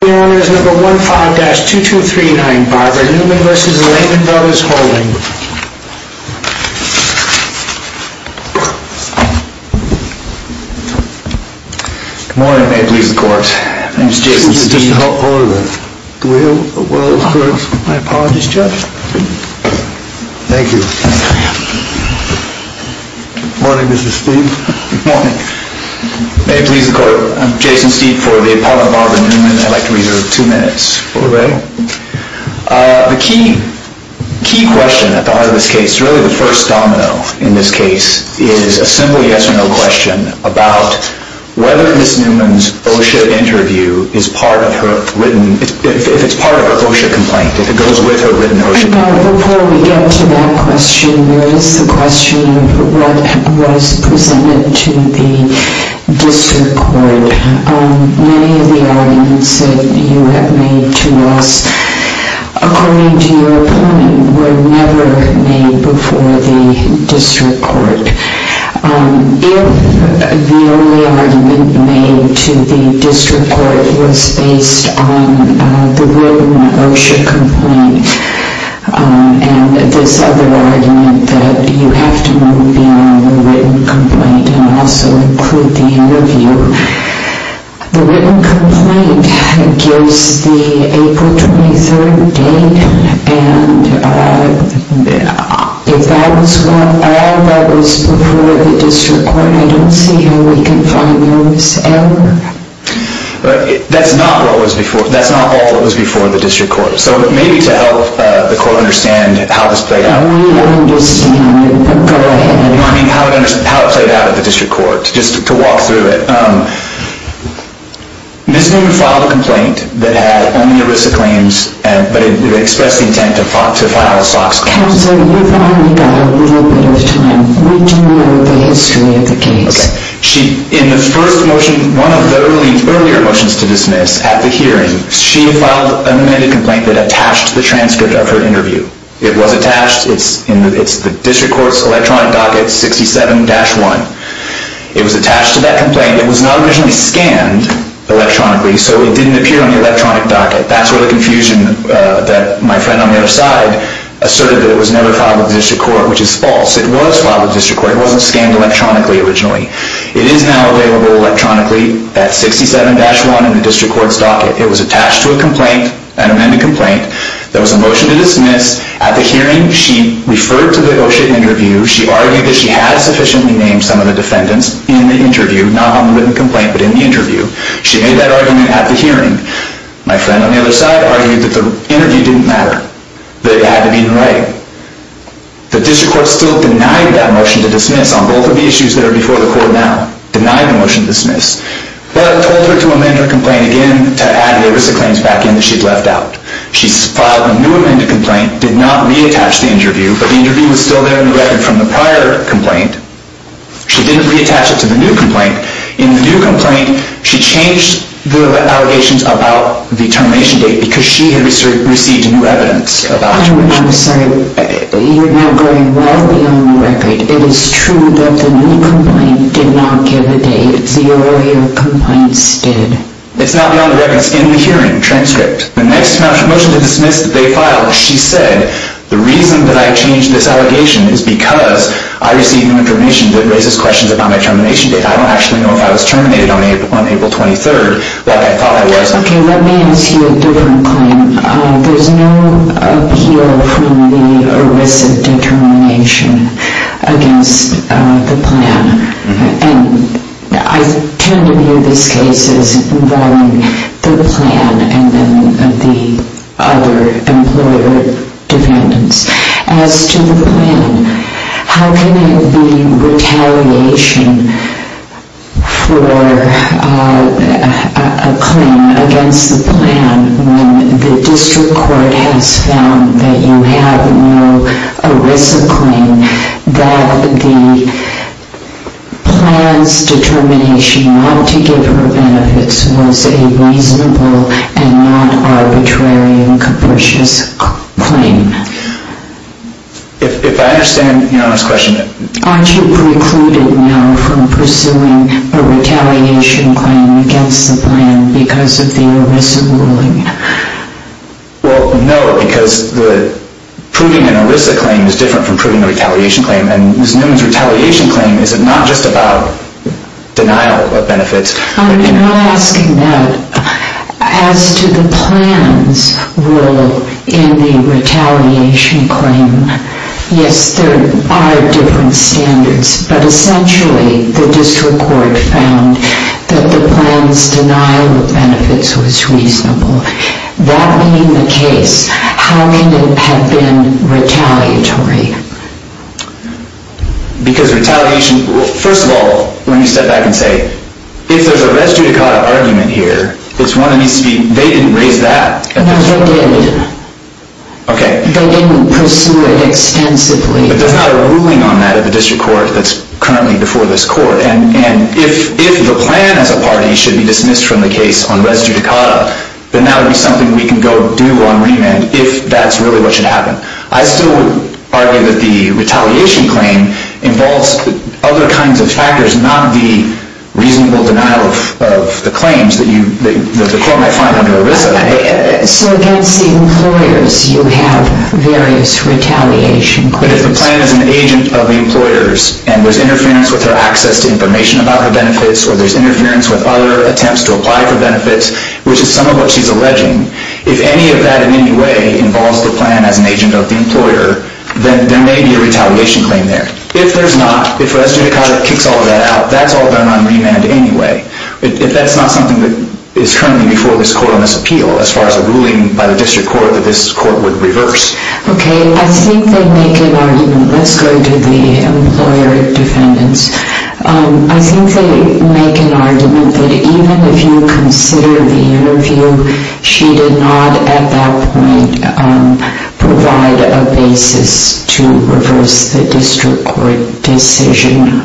The hearing is number 15-2239, Barber Newman v. Lehman Brothers Holdings. Good morning, may it please the court. My name is Jason Steed. Mr. Holder, do we have a world of court? My apologies, Judge. Thank you. Good morning, Mr. Steed. Good morning. May it please the court. I'm Jason Steed for the appellant, Barber Newman. I'd like to reserve two minutes for the hearing. The key question at the heart of this case, really the first domino in this case, is a simple yes or no question about whether Ms. Newman's OSHA interview is part of her written, if it's part of her OSHA complaint, if it goes with her written OSHA complaint. Before we get to that question, what is the question of what was presented to the district court? Many of the arguments that you have made to us, according to your point, were never made before the district court. If the only argument made to the district court was based on the written OSHA complaint and this other argument that you have to move in on the written complaint and also include the interview, the written complaint gives the April 23rd date, and if that was all that was before the district court, I don't see how we can find a mis-error. That's not all that was before the district court. So maybe to help the court understand how this played out. We understand. Go ahead. How it played out at the district court, just to walk through it. Ms. Newman filed a complaint that had only ERISA claims, but it expressed the intent to file SOX claims. Counsel, you've only got a little bit of time. We do know the history of the case. In the first motion, one of the earlier motions to dismiss at the hearing, she filed a medical complaint that attached the transcript of her interview. It was attached. It's the district court's electronic docket 67-1. It was attached to that complaint. It was not originally scanned electronically, so it didn't appear on the electronic docket. That's where the confusion that my friend on the other side asserted that it was never filed with the district court, which is false. It was filed with the district court. It wasn't scanned electronically originally. It is now available electronically, that 67-1 in the district court's docket. It was attached to a complaint, an amended complaint, that was a motion to dismiss. At the hearing, she referred to the OSHA interview. She argued that she had sufficiently named some of the defendants in the interview, not on the written complaint, but in the interview. She made that argument at the hearing. My friend on the other side argued that the interview didn't matter, that it had to be in writing. The district court still denied that motion to dismiss on both of the issues that are before the court now. Denied the motion to dismiss, but told her to amend her complaint again to add the OVC claims back in that she'd left out. She filed a new amended complaint, did not reattach the interview, but the interview was still there in the record from the prior complaint. She didn't reattach it to the new complaint. In the new complaint, she changed the allegations about the termination date because she had received new evidence about the termination date. I'm sorry. You're now going well beyond the record. It is true that the new complaint did not get a date. The earlier complaints did. It's not beyond the record. It's in the hearing transcript. The next motion to dismiss that they filed, she said, the reason that I changed this allegation is because I received new information that raises questions about my termination date. I don't actually know if I was terminated on April 23rd, but I thought I was. Okay, let me ask you a different claim. There's no appeal from the ERISA determination against the plan. And I tend to view these cases involving the plan and then the other employer defendants. As to the plan, how can there be retaliation for a claim against the plan when the district court has found that you have no ERISA claim, that the plan's determination not to give her benefits was a reasonable and not arbitrary and capricious claim? If I understand your honest question... Aren't you precluded now from pursuing a retaliation claim against the plan because of the ERISA ruling? Well, no, because proving an ERISA claim is different from proving a retaliation claim. And Ms. Newman's retaliation claim is not just about denial of benefits. I'm not asking that. As to the plan's role in the retaliation claim, yes, there are different standards, but essentially the district court found that the plan's denial of benefits was reasonable. That being the case, how can it have been retaliatory? Because retaliation... Well, first of all, let me step back and say, if there's a res judicata argument here, it's one that needs to be... They didn't raise that. No, they did. Okay. They didn't pursue it extensively. But there's not a ruling on that at the district court that's currently before this court. And if the plan as a party should be dismissed from the case on res judicata, then that would be something we can go do on remand if that's really what should happen. I still argue that the retaliation claim involves other kinds of factors, not the reasonable denial of the claims that the court might find under ERISA. So against the employers, you have various retaliation claims. But if the plan is an agent of the employers, and there's interference with her access to information about her benefits, or there's interference with other attempts to apply for benefits, which is some of what she's alleging, if any of that in any way involves the plan as an agent of the employer, then there may be a retaliation claim there. If there's not, if res judicata kicks all of that out, that's all done on remand anyway. If that's not something that is currently before this court on this appeal, as far as a ruling by the district court that this court would reverse. Okay, I think they make an argument. Let's go to the employer defendants. I think they make an argument that even if you consider the interview she did not at that point provide a basis to reverse the district court decision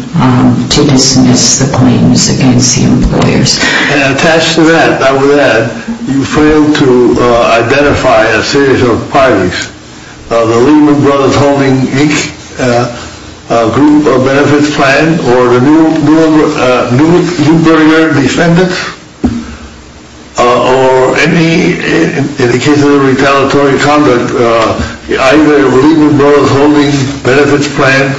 to dismiss the claims against the employers. Attached to that, I would add, you failed to identify a series of parties. The Lehman Brothers holding each group of benefits plan, or the Neuberger defendants, or any, in the case of retaliatory conduct, either the Lehman Brothers holding benefits plan,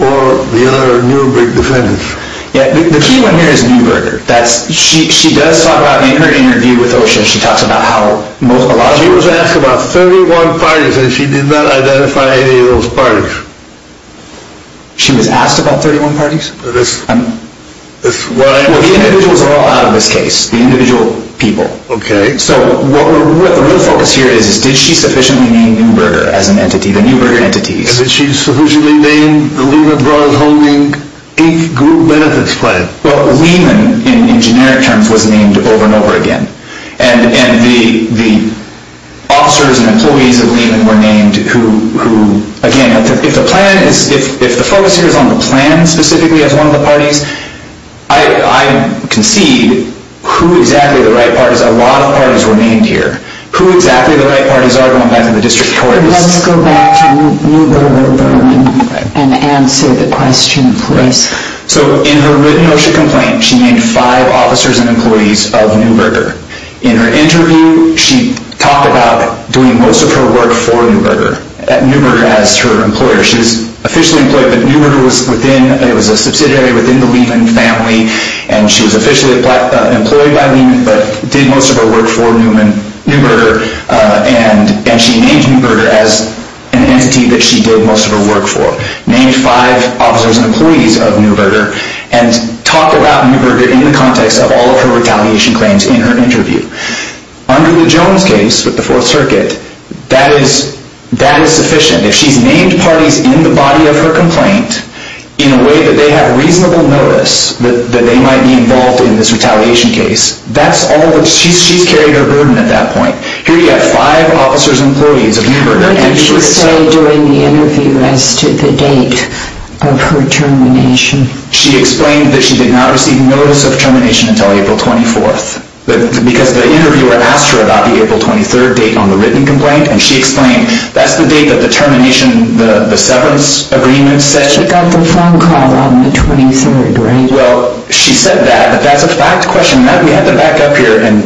or the other Neuberger defendants. The key one here is Neuberger. She does talk about, in her interview with OSHA, she talks about how, She was asked about 31 parties, and she did not identify any of those parties. She was asked about 31 parties? The individuals are all out of this case. The individual people. Okay. So the real focus here is, did she sufficiently name Neuberger as an entity, the Neuberger entities? Did she sufficiently name the Lehman Brothers holding each group benefits plan? Well, Lehman, in generic terms, was named over and over again. And the officers and employees of Lehman were named, who, again, if the focus here is on the plan specifically as one of the parties, I concede who exactly the right parties, a lot of parties were named here. Who exactly the right parties are going back to the district courts. Let's go back to Neuberger and answer the question, please. So in her written OSHA complaint, she named five officers and employees of Neuberger. In her interview, she talked about doing most of her work for Neuberger, at Neuberger as her employer. She was officially employed, but Neuberger was within, it was a subsidiary within the Lehman family, and she was officially employed by Lehman, but did most of her work for Neuberger, and she named Neuberger as an entity that she did most of her work for. Named five officers and employees of Neuberger, and talked about Neuberger in the context of all of her retaliation claims in her interview. Under the Jones case with the Fourth Circuit, that is sufficient. If she's named parties in the body of her complaint, in a way that they have reasonable notice that they might be involved in this retaliation case, that's all, she's carried her burden at that point. Here you have five officers and employees of Neuberger. What did she say during the interview as to the date of her termination? She explained that she did not receive notice of termination until April 24th, because the interviewer asked her about the April 23rd date on the written complaint, and she explained that's the date that the termination, the severance agreement session. She got the phone call on the 23rd, right? Well, she said that, but that's a fact question. We have to back up here and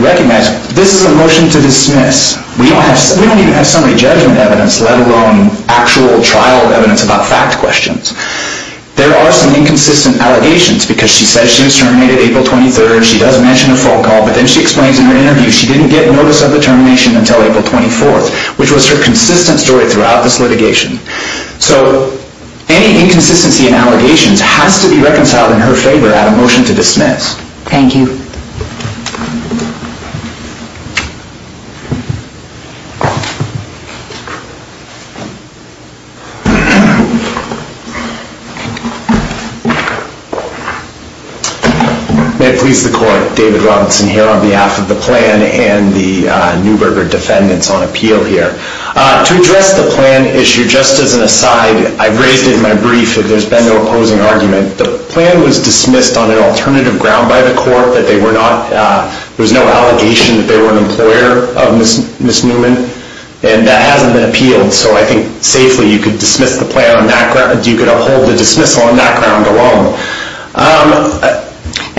recognize this is a motion to dismiss. We don't even have summary judgment evidence, let alone actual trial evidence about fact questions. There are some inconsistent allegations, because she says she was terminated April 23rd, she does mention a phone call, but then she explains in her interview she didn't get notice of the termination until April 24th, which was her consistent story throughout this litigation. So any inconsistency in allegations has to be reconciled in her favor at a motion to dismiss. Thank you. May it please the court. David Robinson here on behalf of the plan and the Neuberger defendants on appeal here. To address the plan issue, just as an aside, I've raised in my brief that there's been no opposing argument. The plan was dismissed on an alternative ground by the court, that there was no allegation that they were an employer of Ms. Newman, and that hasn't been appealed. So I think safely you could dismiss the plan on that ground, you could uphold the dismissal on that ground alone.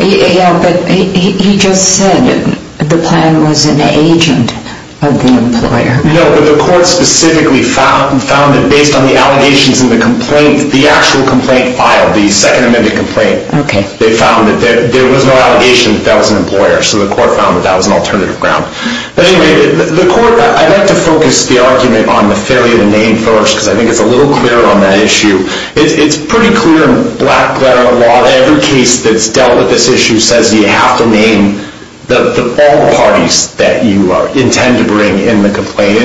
Yeah, but he just said the plan was an agent of the employer. No, but the court specifically found that based on the allegations in the complaint, the actual complaint filed, the second amended complaint, they found that there was no allegation that that was an employer. So the court found that that was an alternative ground. Anyway, the court, I'd like to focus the argument on the failure to name first, because I think it's a little clearer on that issue. It's pretty clear in black letter law, every case that's dealt with this issue says you have to name all the parties that you intend to bring in the complaint.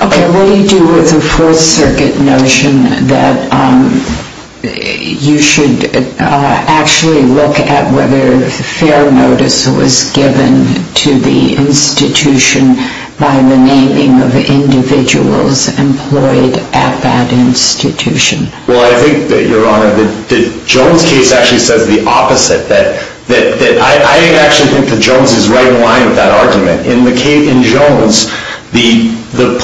Okay, what do you do with the Fourth Circuit notion that you should actually look at whether fair notice was given to the institution by the naming of individuals employed at that institution? Well, I think, Your Honor, the Jones case actually says the opposite. I actually think that Jones is right in line with that argument. In Jones, the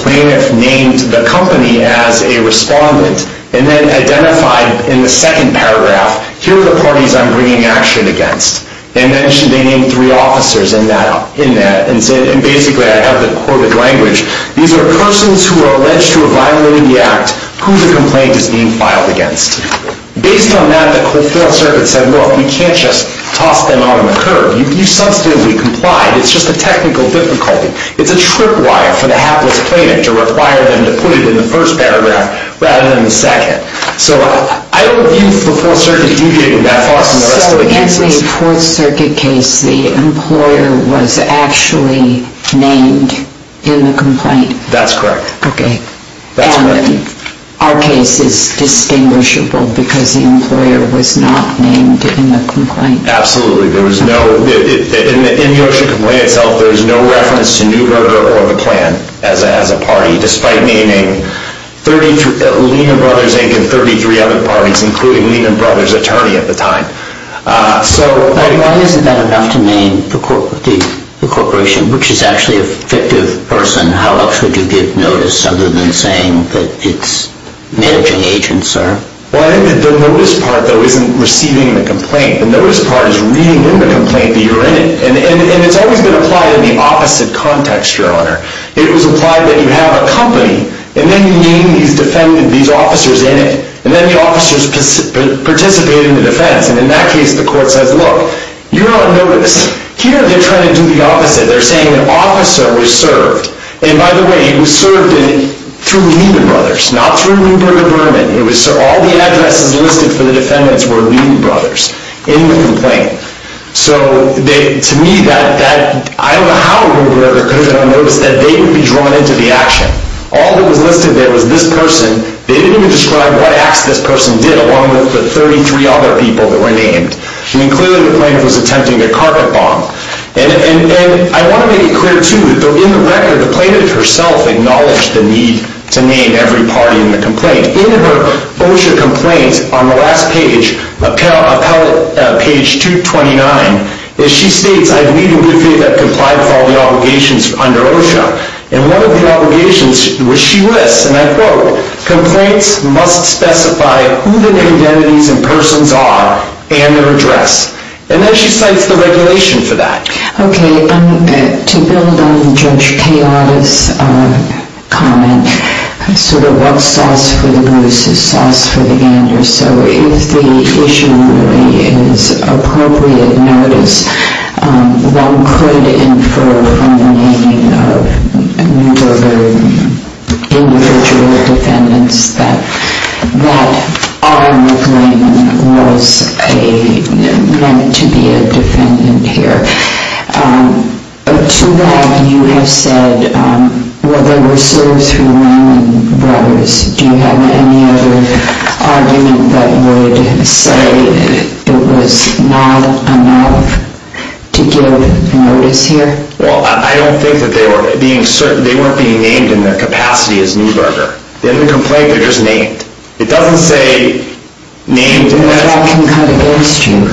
plaintiff named the company as a respondent and then identified in the second paragraph, here are the parties I'm bringing action against. They mentioned they named three officers in that, and basically I have the quoted language. These are persons who are alleged to have violated the act who the complaint is being filed against. Based on that, the Fourth Circuit said, look, you can't just toss them out on the curb. You've substantively complied. It's just a technical difficulty. It's a trip wire for the hapless plaintiff to require them to put it in the first paragraph rather than the second. So I don't view the Fourth Circuit deviating that far from the rest of the cases. So in the Fourth Circuit case, the employer was actually named in the complaint? That's correct. Okay. Our case is distinguishable because the employer was not named in the complaint. Absolutely. In the OSHA complaint itself, there is no reference to Newberger or the plan as a party, despite naming Lehman Brothers Inc. and 33 other parties, including Lehman Brothers' attorney at the time. Why isn't that enough to name the corporation, which is actually a fictive person? How else would you give notice other than saying that it's managing agents, sir? The notice part, though, isn't receiving the complaint. The notice part is reading in the complaint that you're in it. It was implied that you have a company. And then you name these officers in it. And then the officers participate in the defense. And in that case, the court says, look, you're on notice. Here, they're trying to do the opposite. They're saying an officer was served. And by the way, he was served through Lehman Brothers, not through Newberger Berman. All the addresses listed for the defendants were Lehman Brothers in the complaint. So to me, I don't know how Newberger could have been on notice that they would be drawn into the action. All that was listed there was this person. They didn't even describe what acts this person did, along with the 33 other people that were named. I mean, clearly the plaintiff was attempting a carpet bomb. And I want to make it clear, too, that in the record, the plaintiff herself acknowledged the need to name every party in the complaint. In her OSHA complaint, on the last page, page 229, she states, I believe in good faith I've complied with all the obligations under OSHA. And one of the obligations was she lists, and I quote, Complaints must specify who the identities and persons are and their address. And then she cites the regulation for that. OK. To build on Judge Kayada's comment, sort of what's sauce for the goose is sauce for the gander. So if the issue really is appropriate notice, one could infer from the naming of Newberger individual defendants that Auburn McLean was meant to be a defendant here. To that, you have said, well, they were served through Lennon Brothers. Do you have any other argument that would say it was not enough to give notice here? Well, I don't think that they were being named in their capacity as Newberger. In the complaint, they're just named. It doesn't say named. Can I ask you a question?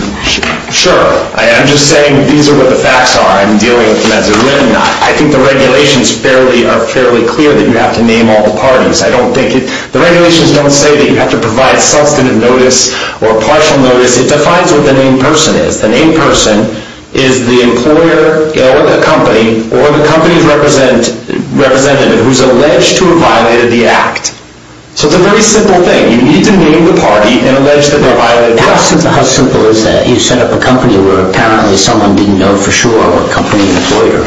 Sure. I'm just saying these are what the facts are. I'm dealing with them as a remnant. I think the regulations are fairly clear that you have to name all the parties. The regulations don't say that you have to provide substantive notice or partial notice. It defines what the named person is. The named person is the employer or the company or the company's representative who's alleged to have violated the act. So it's a very simple thing. You need to name the party and allege that they violated the act. How simple is that? You set up a company where apparently someone didn't know for sure what company and employer.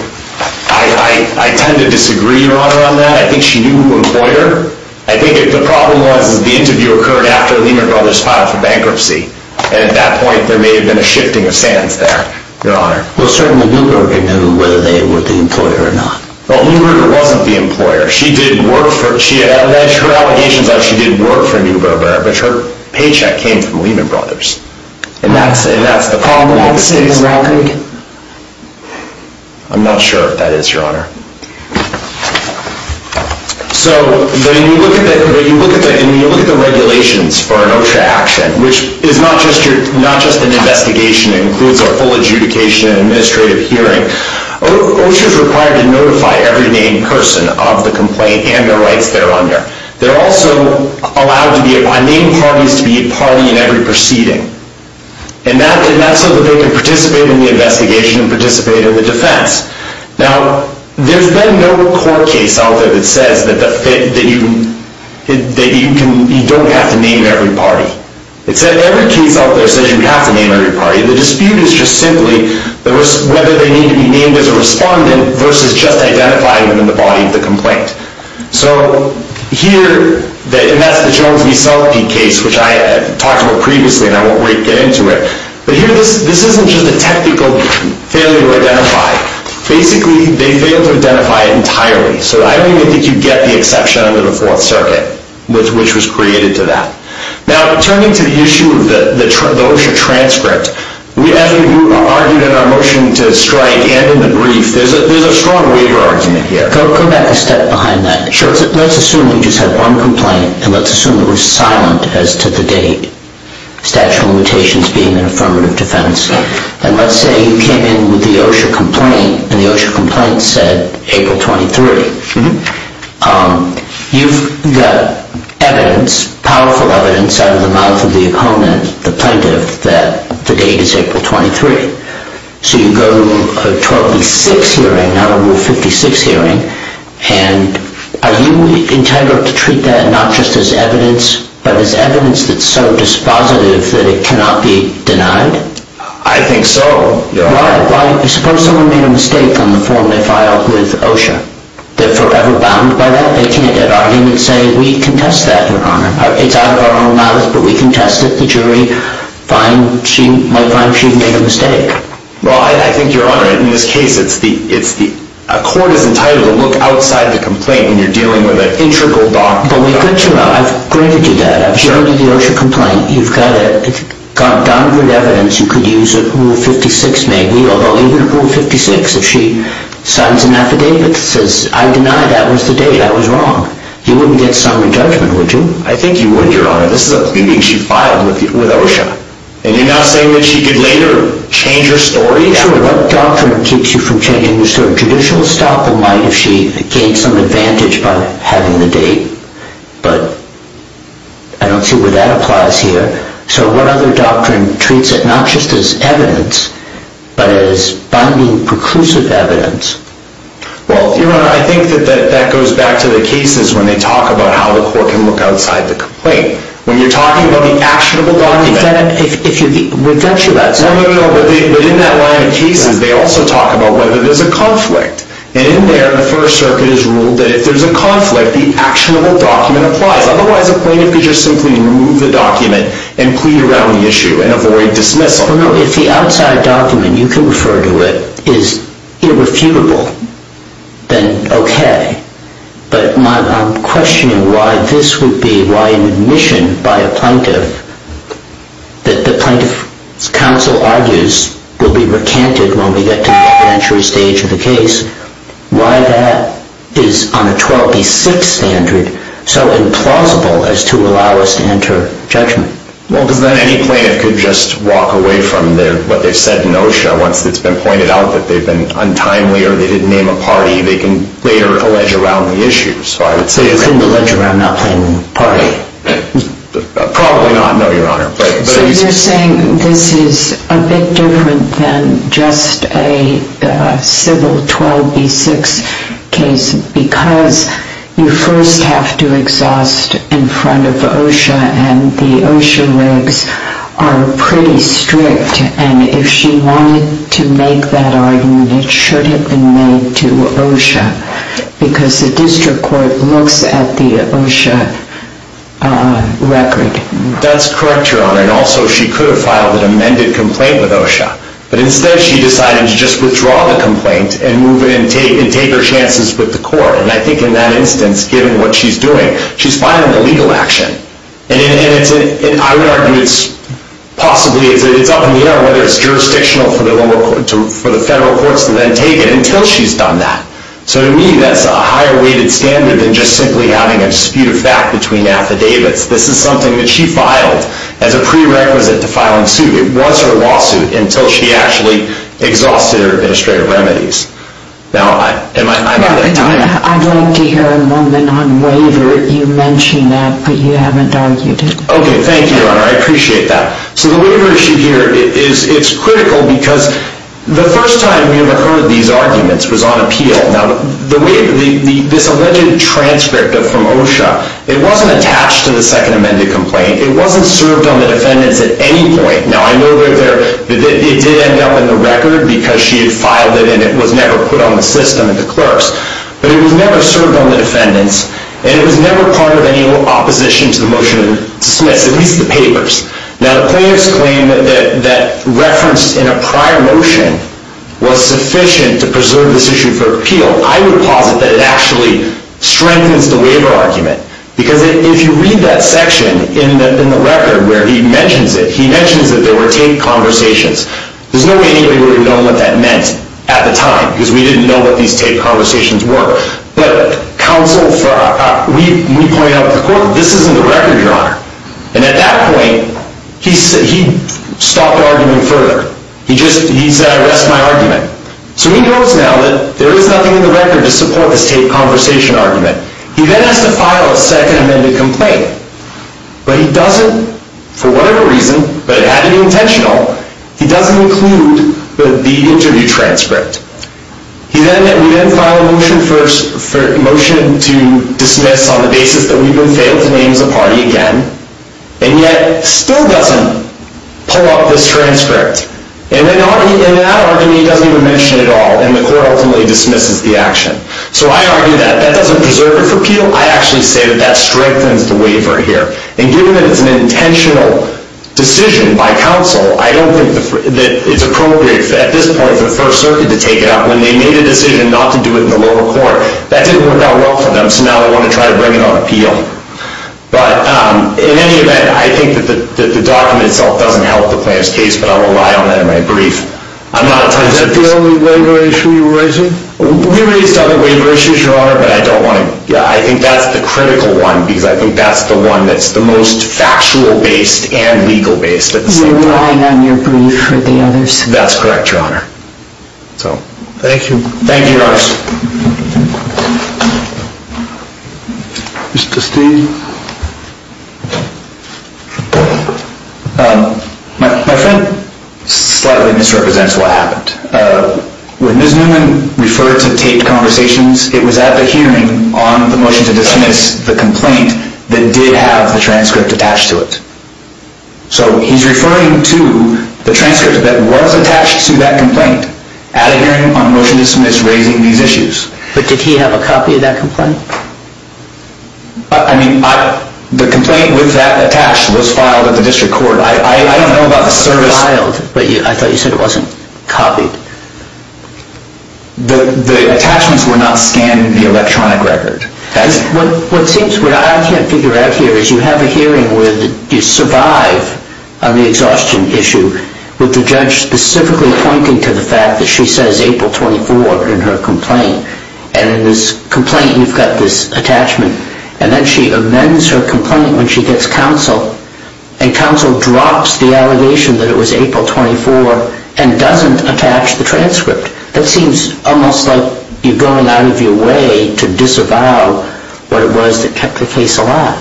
I tend to disagree, Your Honor, on that. I think she knew who the employer. I think the problem was the interview occurred after Lennon Brothers filed for bankruptcy, and at that point there may have been a shifting of sands there, Your Honor. Well, certainly Newberger knew whether they were the employer or not. Well, Newberger wasn't the employer. She alleged her allegations that she didn't work for Newberger, but her paycheck came from Lehman Brothers. And that's the problem. I'm not sure if that is, Your Honor. So when you look at the regulations for an OSHA action, which is not just an investigation that includes a full adjudication and administrative hearing, OSHA is required to notify every named person of the complaint and the rights they're under. They're also allowed by named parties to be a party in every proceeding. And that's so that they can participate in the investigation and participate in the defense. Now, there's been no court case out there that says that you don't have to name every party. Every case out there says you have to name every party. The dispute is just simply whether they need to be named as a respondent versus just identifying them in the body of the complaint. So here, and that's the Jones v. Selkey case, which I talked about previously, and I won't get into it, but here this isn't just a technical failure to identify. Basically, they failed to identify it entirely. So I don't even think you get the exception under the Fourth Circuit, which was created to that. Now, turning to the issue of the OSHA transcript, as we argued in our motion to strike and in the brief, there's a strong waiver argument here. Go back a step behind that. Sure. Let's assume we just have one complaint, and let's assume that we're silent as to the date. Statutory limitations being an affirmative defense. And let's say you came in with the OSHA complaint, and the OSHA complaint said April 23. You've got evidence, powerful evidence, out of the mouth of the opponent, the plaintiff, that the date is April 23. So you go to a 12 v. 6 hearing, not a rule 56 hearing, and are you entitled to treat that not just as evidence, but as evidence that's so dispositive that it cannot be denied? I think so. Suppose someone made a mistake on the form they filed with OSHA. They're forever bound by that? They can't argue and say, we contest that, Your Honor. It's out of our own mouth, but we contest it. The jury might find she made a mistake. Well, I think, Your Honor, in this case, a court is entitled to look outside the complaint when you're dealing with an integral document. I've granted you that. I've shown you the OSHA complaint. You've got it. It's got down-to-earth evidence. You could use a rule 56, maybe, although even a rule 56, if she signs an affidavit that says, I deny that was the date, that was wrong, you wouldn't get summary judgment, would you? I think you would, Your Honor. This is a complaint she filed with OSHA. And you're not saying that she could later change her story? What doctrine keeps you from changing your story? Judicial estoppel might, if she gained some advantage by having the date, but I don't see where that applies here. So what other doctrine treats it not just as evidence, but as binding, preclusive evidence? Well, Your Honor, I think that that goes back to the cases when they talk about how the court can look outside the complaint. When you're talking about the actionable document. We've got you that, sir. No, no, no. But in that line of cases, they also talk about whether there's a conflict. And in there, the First Circuit has ruled that if there's a conflict, the actionable document applies. Otherwise, a plaintiff could just simply remove the document and plead around the issue and avoid dismissal. Well, no, if the outside document, you can refer to it, is irrefutable, then okay. But I'm questioning why this would be why an admission by a plaintiff that the plaintiff's counsel argues will be recanted when we get to the entry stage of the case. Why that is, on a 12B6 standard, so implausible as to allow us to enter judgment. Well, because then any plaintiff could just walk away from what they've said in OSHA once it's been pointed out that they've been untimely or they didn't name a party. They can later allege around the issues. But you couldn't allege around not naming a party. Probably not, no, Your Honor. So you're saying this is a bit different than just a civil 12B6 case because you first have to exhaust in front of OSHA and the OSHA regs are pretty strict. And if she wanted to make that argument, it should have been made to OSHA because the district court looks at the OSHA record. That's correct, Your Honor. And also, she could have filed an amended complaint with OSHA. But instead, she decided to just withdraw the complaint and take her chances with the court. And I think in that instance, given what she's doing, she's filing a legal action. And I would argue it's possibly up in the air whether it's jurisdictional for the federal courts to then take it until she's done that. So to me, that's a higher-weighted standard than just simply having a dispute of fact between affidavits. This is something that she filed as a prerequisite to filing suit. It was her lawsuit until she actually exhausted her administrative remedies. Now, am I out of time? I'd like to hear a moment on waiver. You mentioned that, but you haven't argued it. Okay, thank you, Your Honor. I appreciate that. So the waiver issue here, it's critical because the first time we ever heard these arguments was on appeal. Now, this alleged transcript from OSHA, it wasn't attached to the second amended complaint. It wasn't served on the defendants at any point. Now, I know that it did end up in the record because she had filed it, and it was never put on the system at the clerks. But it was never served on the defendants, and it was never part of any opposition to the motion to dismiss, at least the papers. Now, the plaintiff's claim that referenced in a prior motion was sufficient to preserve this issue for appeal, I would posit that it actually strengthens the waiver argument. Because if you read that section in the record where he mentions it, he mentions that there were taped conversations. There's no way anybody would have known what that meant at the time because we didn't know what these taped conversations were. But counsel, we pointed out to the court, this isn't the record, Your Honor. And at that point, he stopped arguing further. He said, I rest my argument. So he knows now that there is nothing in the record to support this taped conversation argument. He then has to file a second amended complaint. But he doesn't, for whatever reason, but it had to be intentional, he doesn't include the interview transcript. He then filed a motion to dismiss on the basis that we've been failed to name as a party again, and yet still doesn't pull up this transcript. And in that argument, he doesn't even mention it at all, and the court ultimately dismisses the action. So I argue that that doesn't preserve it for appeal. I actually say that that strengthens the waiver here. And given that it's an intentional decision by counsel, I don't think that it's appropriate at this point for the First Circuit to take it up when they made a decision not to do it in the lower court. That didn't work out well for them, so now they want to try to bring it on appeal. But in any event, I think that the document itself doesn't help the plaintiff's case, but I will rely on that in my brief. Is that the only waiver issue you're raising? We raised other waiver issues, Your Honor, but I think that's the critical one, because I think that's the one that's the most factual-based and legal-based at the same time. So you're relying on your brief for the others? That's correct, Your Honor. Thank you. Thank you, Your Honor. Mr. Steele? My friend slightly misrepresents what happened. When Ms. Newman referred to taped conversations, it was at the hearing on the motion to dismiss the complaint that did have the transcript attached to it. So he's referring to the transcript that was attached to that complaint at a hearing on motion to dismiss raising these issues. But did he have a copy of that complaint? I mean, the complaint with that attached was filed at the district court. I don't know about the service. It was filed, but I thought you said it wasn't copied. The attachments were not scanned in the electronic record. What I can't figure out here is you have a hearing where you survive on the exhaustion issue with the judge specifically pointing to the fact that she says April 24 in her complaint, and in this complaint you've got this attachment. And then she amends her complaint when she gets counsel, and counsel drops the allegation that it was April 24 and doesn't attach the transcript. That seems almost like you're going out of your way to disavow what it was that kept the case alive.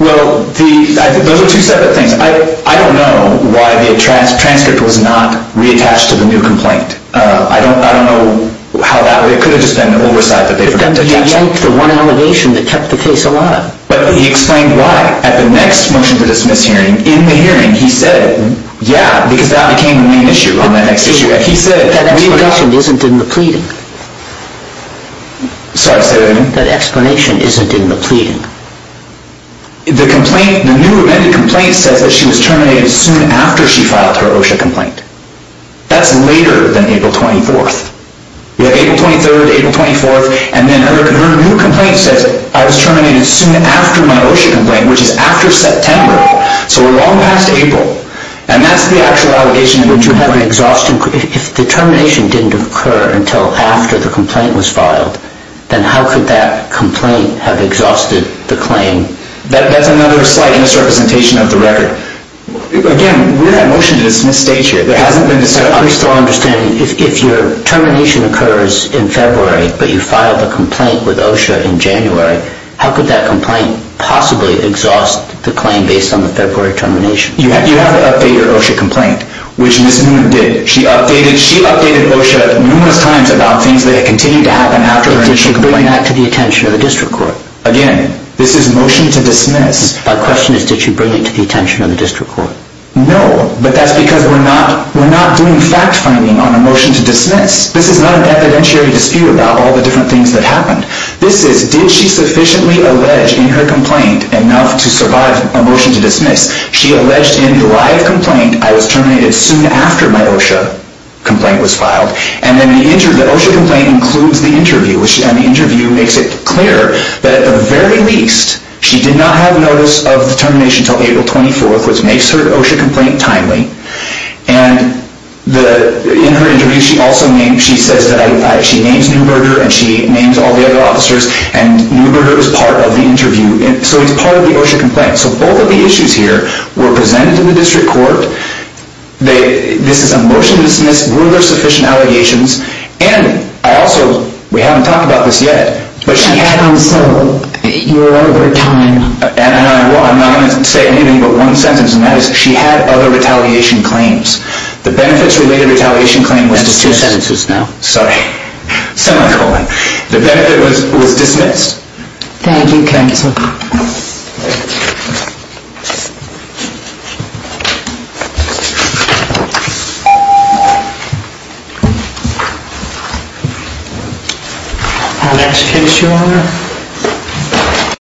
Well, those are two separate things. I don't know why the transcript was not reattached to the new complaint. I don't know how that would have been. It could have just been an oversight that they forgot to attach it. But then he yanked the one allegation that kept the case alive. But he explained why. At the next motion to dismiss hearing, in the hearing, he said, Yeah, because that became the main issue on that next issue. And he said, That explanation isn't in the pleading. Sorry, say that again? That explanation isn't in the pleading. The new amended complaint says that she was terminated soon after she filed her OSHA complaint. That's later than April 24. You have April 23, April 24, and then her new complaint says, I was terminated soon after my OSHA complaint, which is after September. So we're long past April. And that's the actual allegation. If the termination didn't occur until after the complaint was filed, then how could that complaint have exhausted the claim? That's another slight misrepresentation of the record. Again, we're at motion to dismiss stage here. There hasn't been a set up. I'm still understanding. If your termination occurs in February, but you filed a complaint with OSHA in January, how could that complaint possibly exhaust the claim based on the February termination? You have to update your OSHA complaint, which Ms. Newman did. She updated OSHA numerous times about things that had continued to happen after her OSHA complaint. Did she bring that to the attention of the district court? Again, this is motion to dismiss. My question is, did she bring it to the attention of the district court? No, but that's because we're not doing fact-finding on a motion to dismiss. This is not an evidentiary dispute about all the different things that happened. This is, did she sufficiently allege in her complaint enough to survive a motion to dismiss? She alleged in the live complaint, I was terminated soon after my OSHA complaint was filed. And then the OSHA complaint includes the interview. And the interview makes it clear that at the very least, she did not have notice of the termination until April 24th, which makes her OSHA complaint timely. And in her interview, she says that she names Neuberger and she names all the other officers. And Neuberger is part of the interview. So he's part of the OSHA complaint. So both of the issues here were presented to the district court. This is a motion to dismiss. Were there sufficient allegations? And I also, we haven't talked about this yet, but she had... You're over time. I'm not going to say anything but one sentence, and that is she had other retaliation claims. The benefits-related retaliation claim was dismissed. That's two sentences now. Sorry. Semi-colon. The benefit was dismissed. Thank you, counsel. Next case, Your Honor.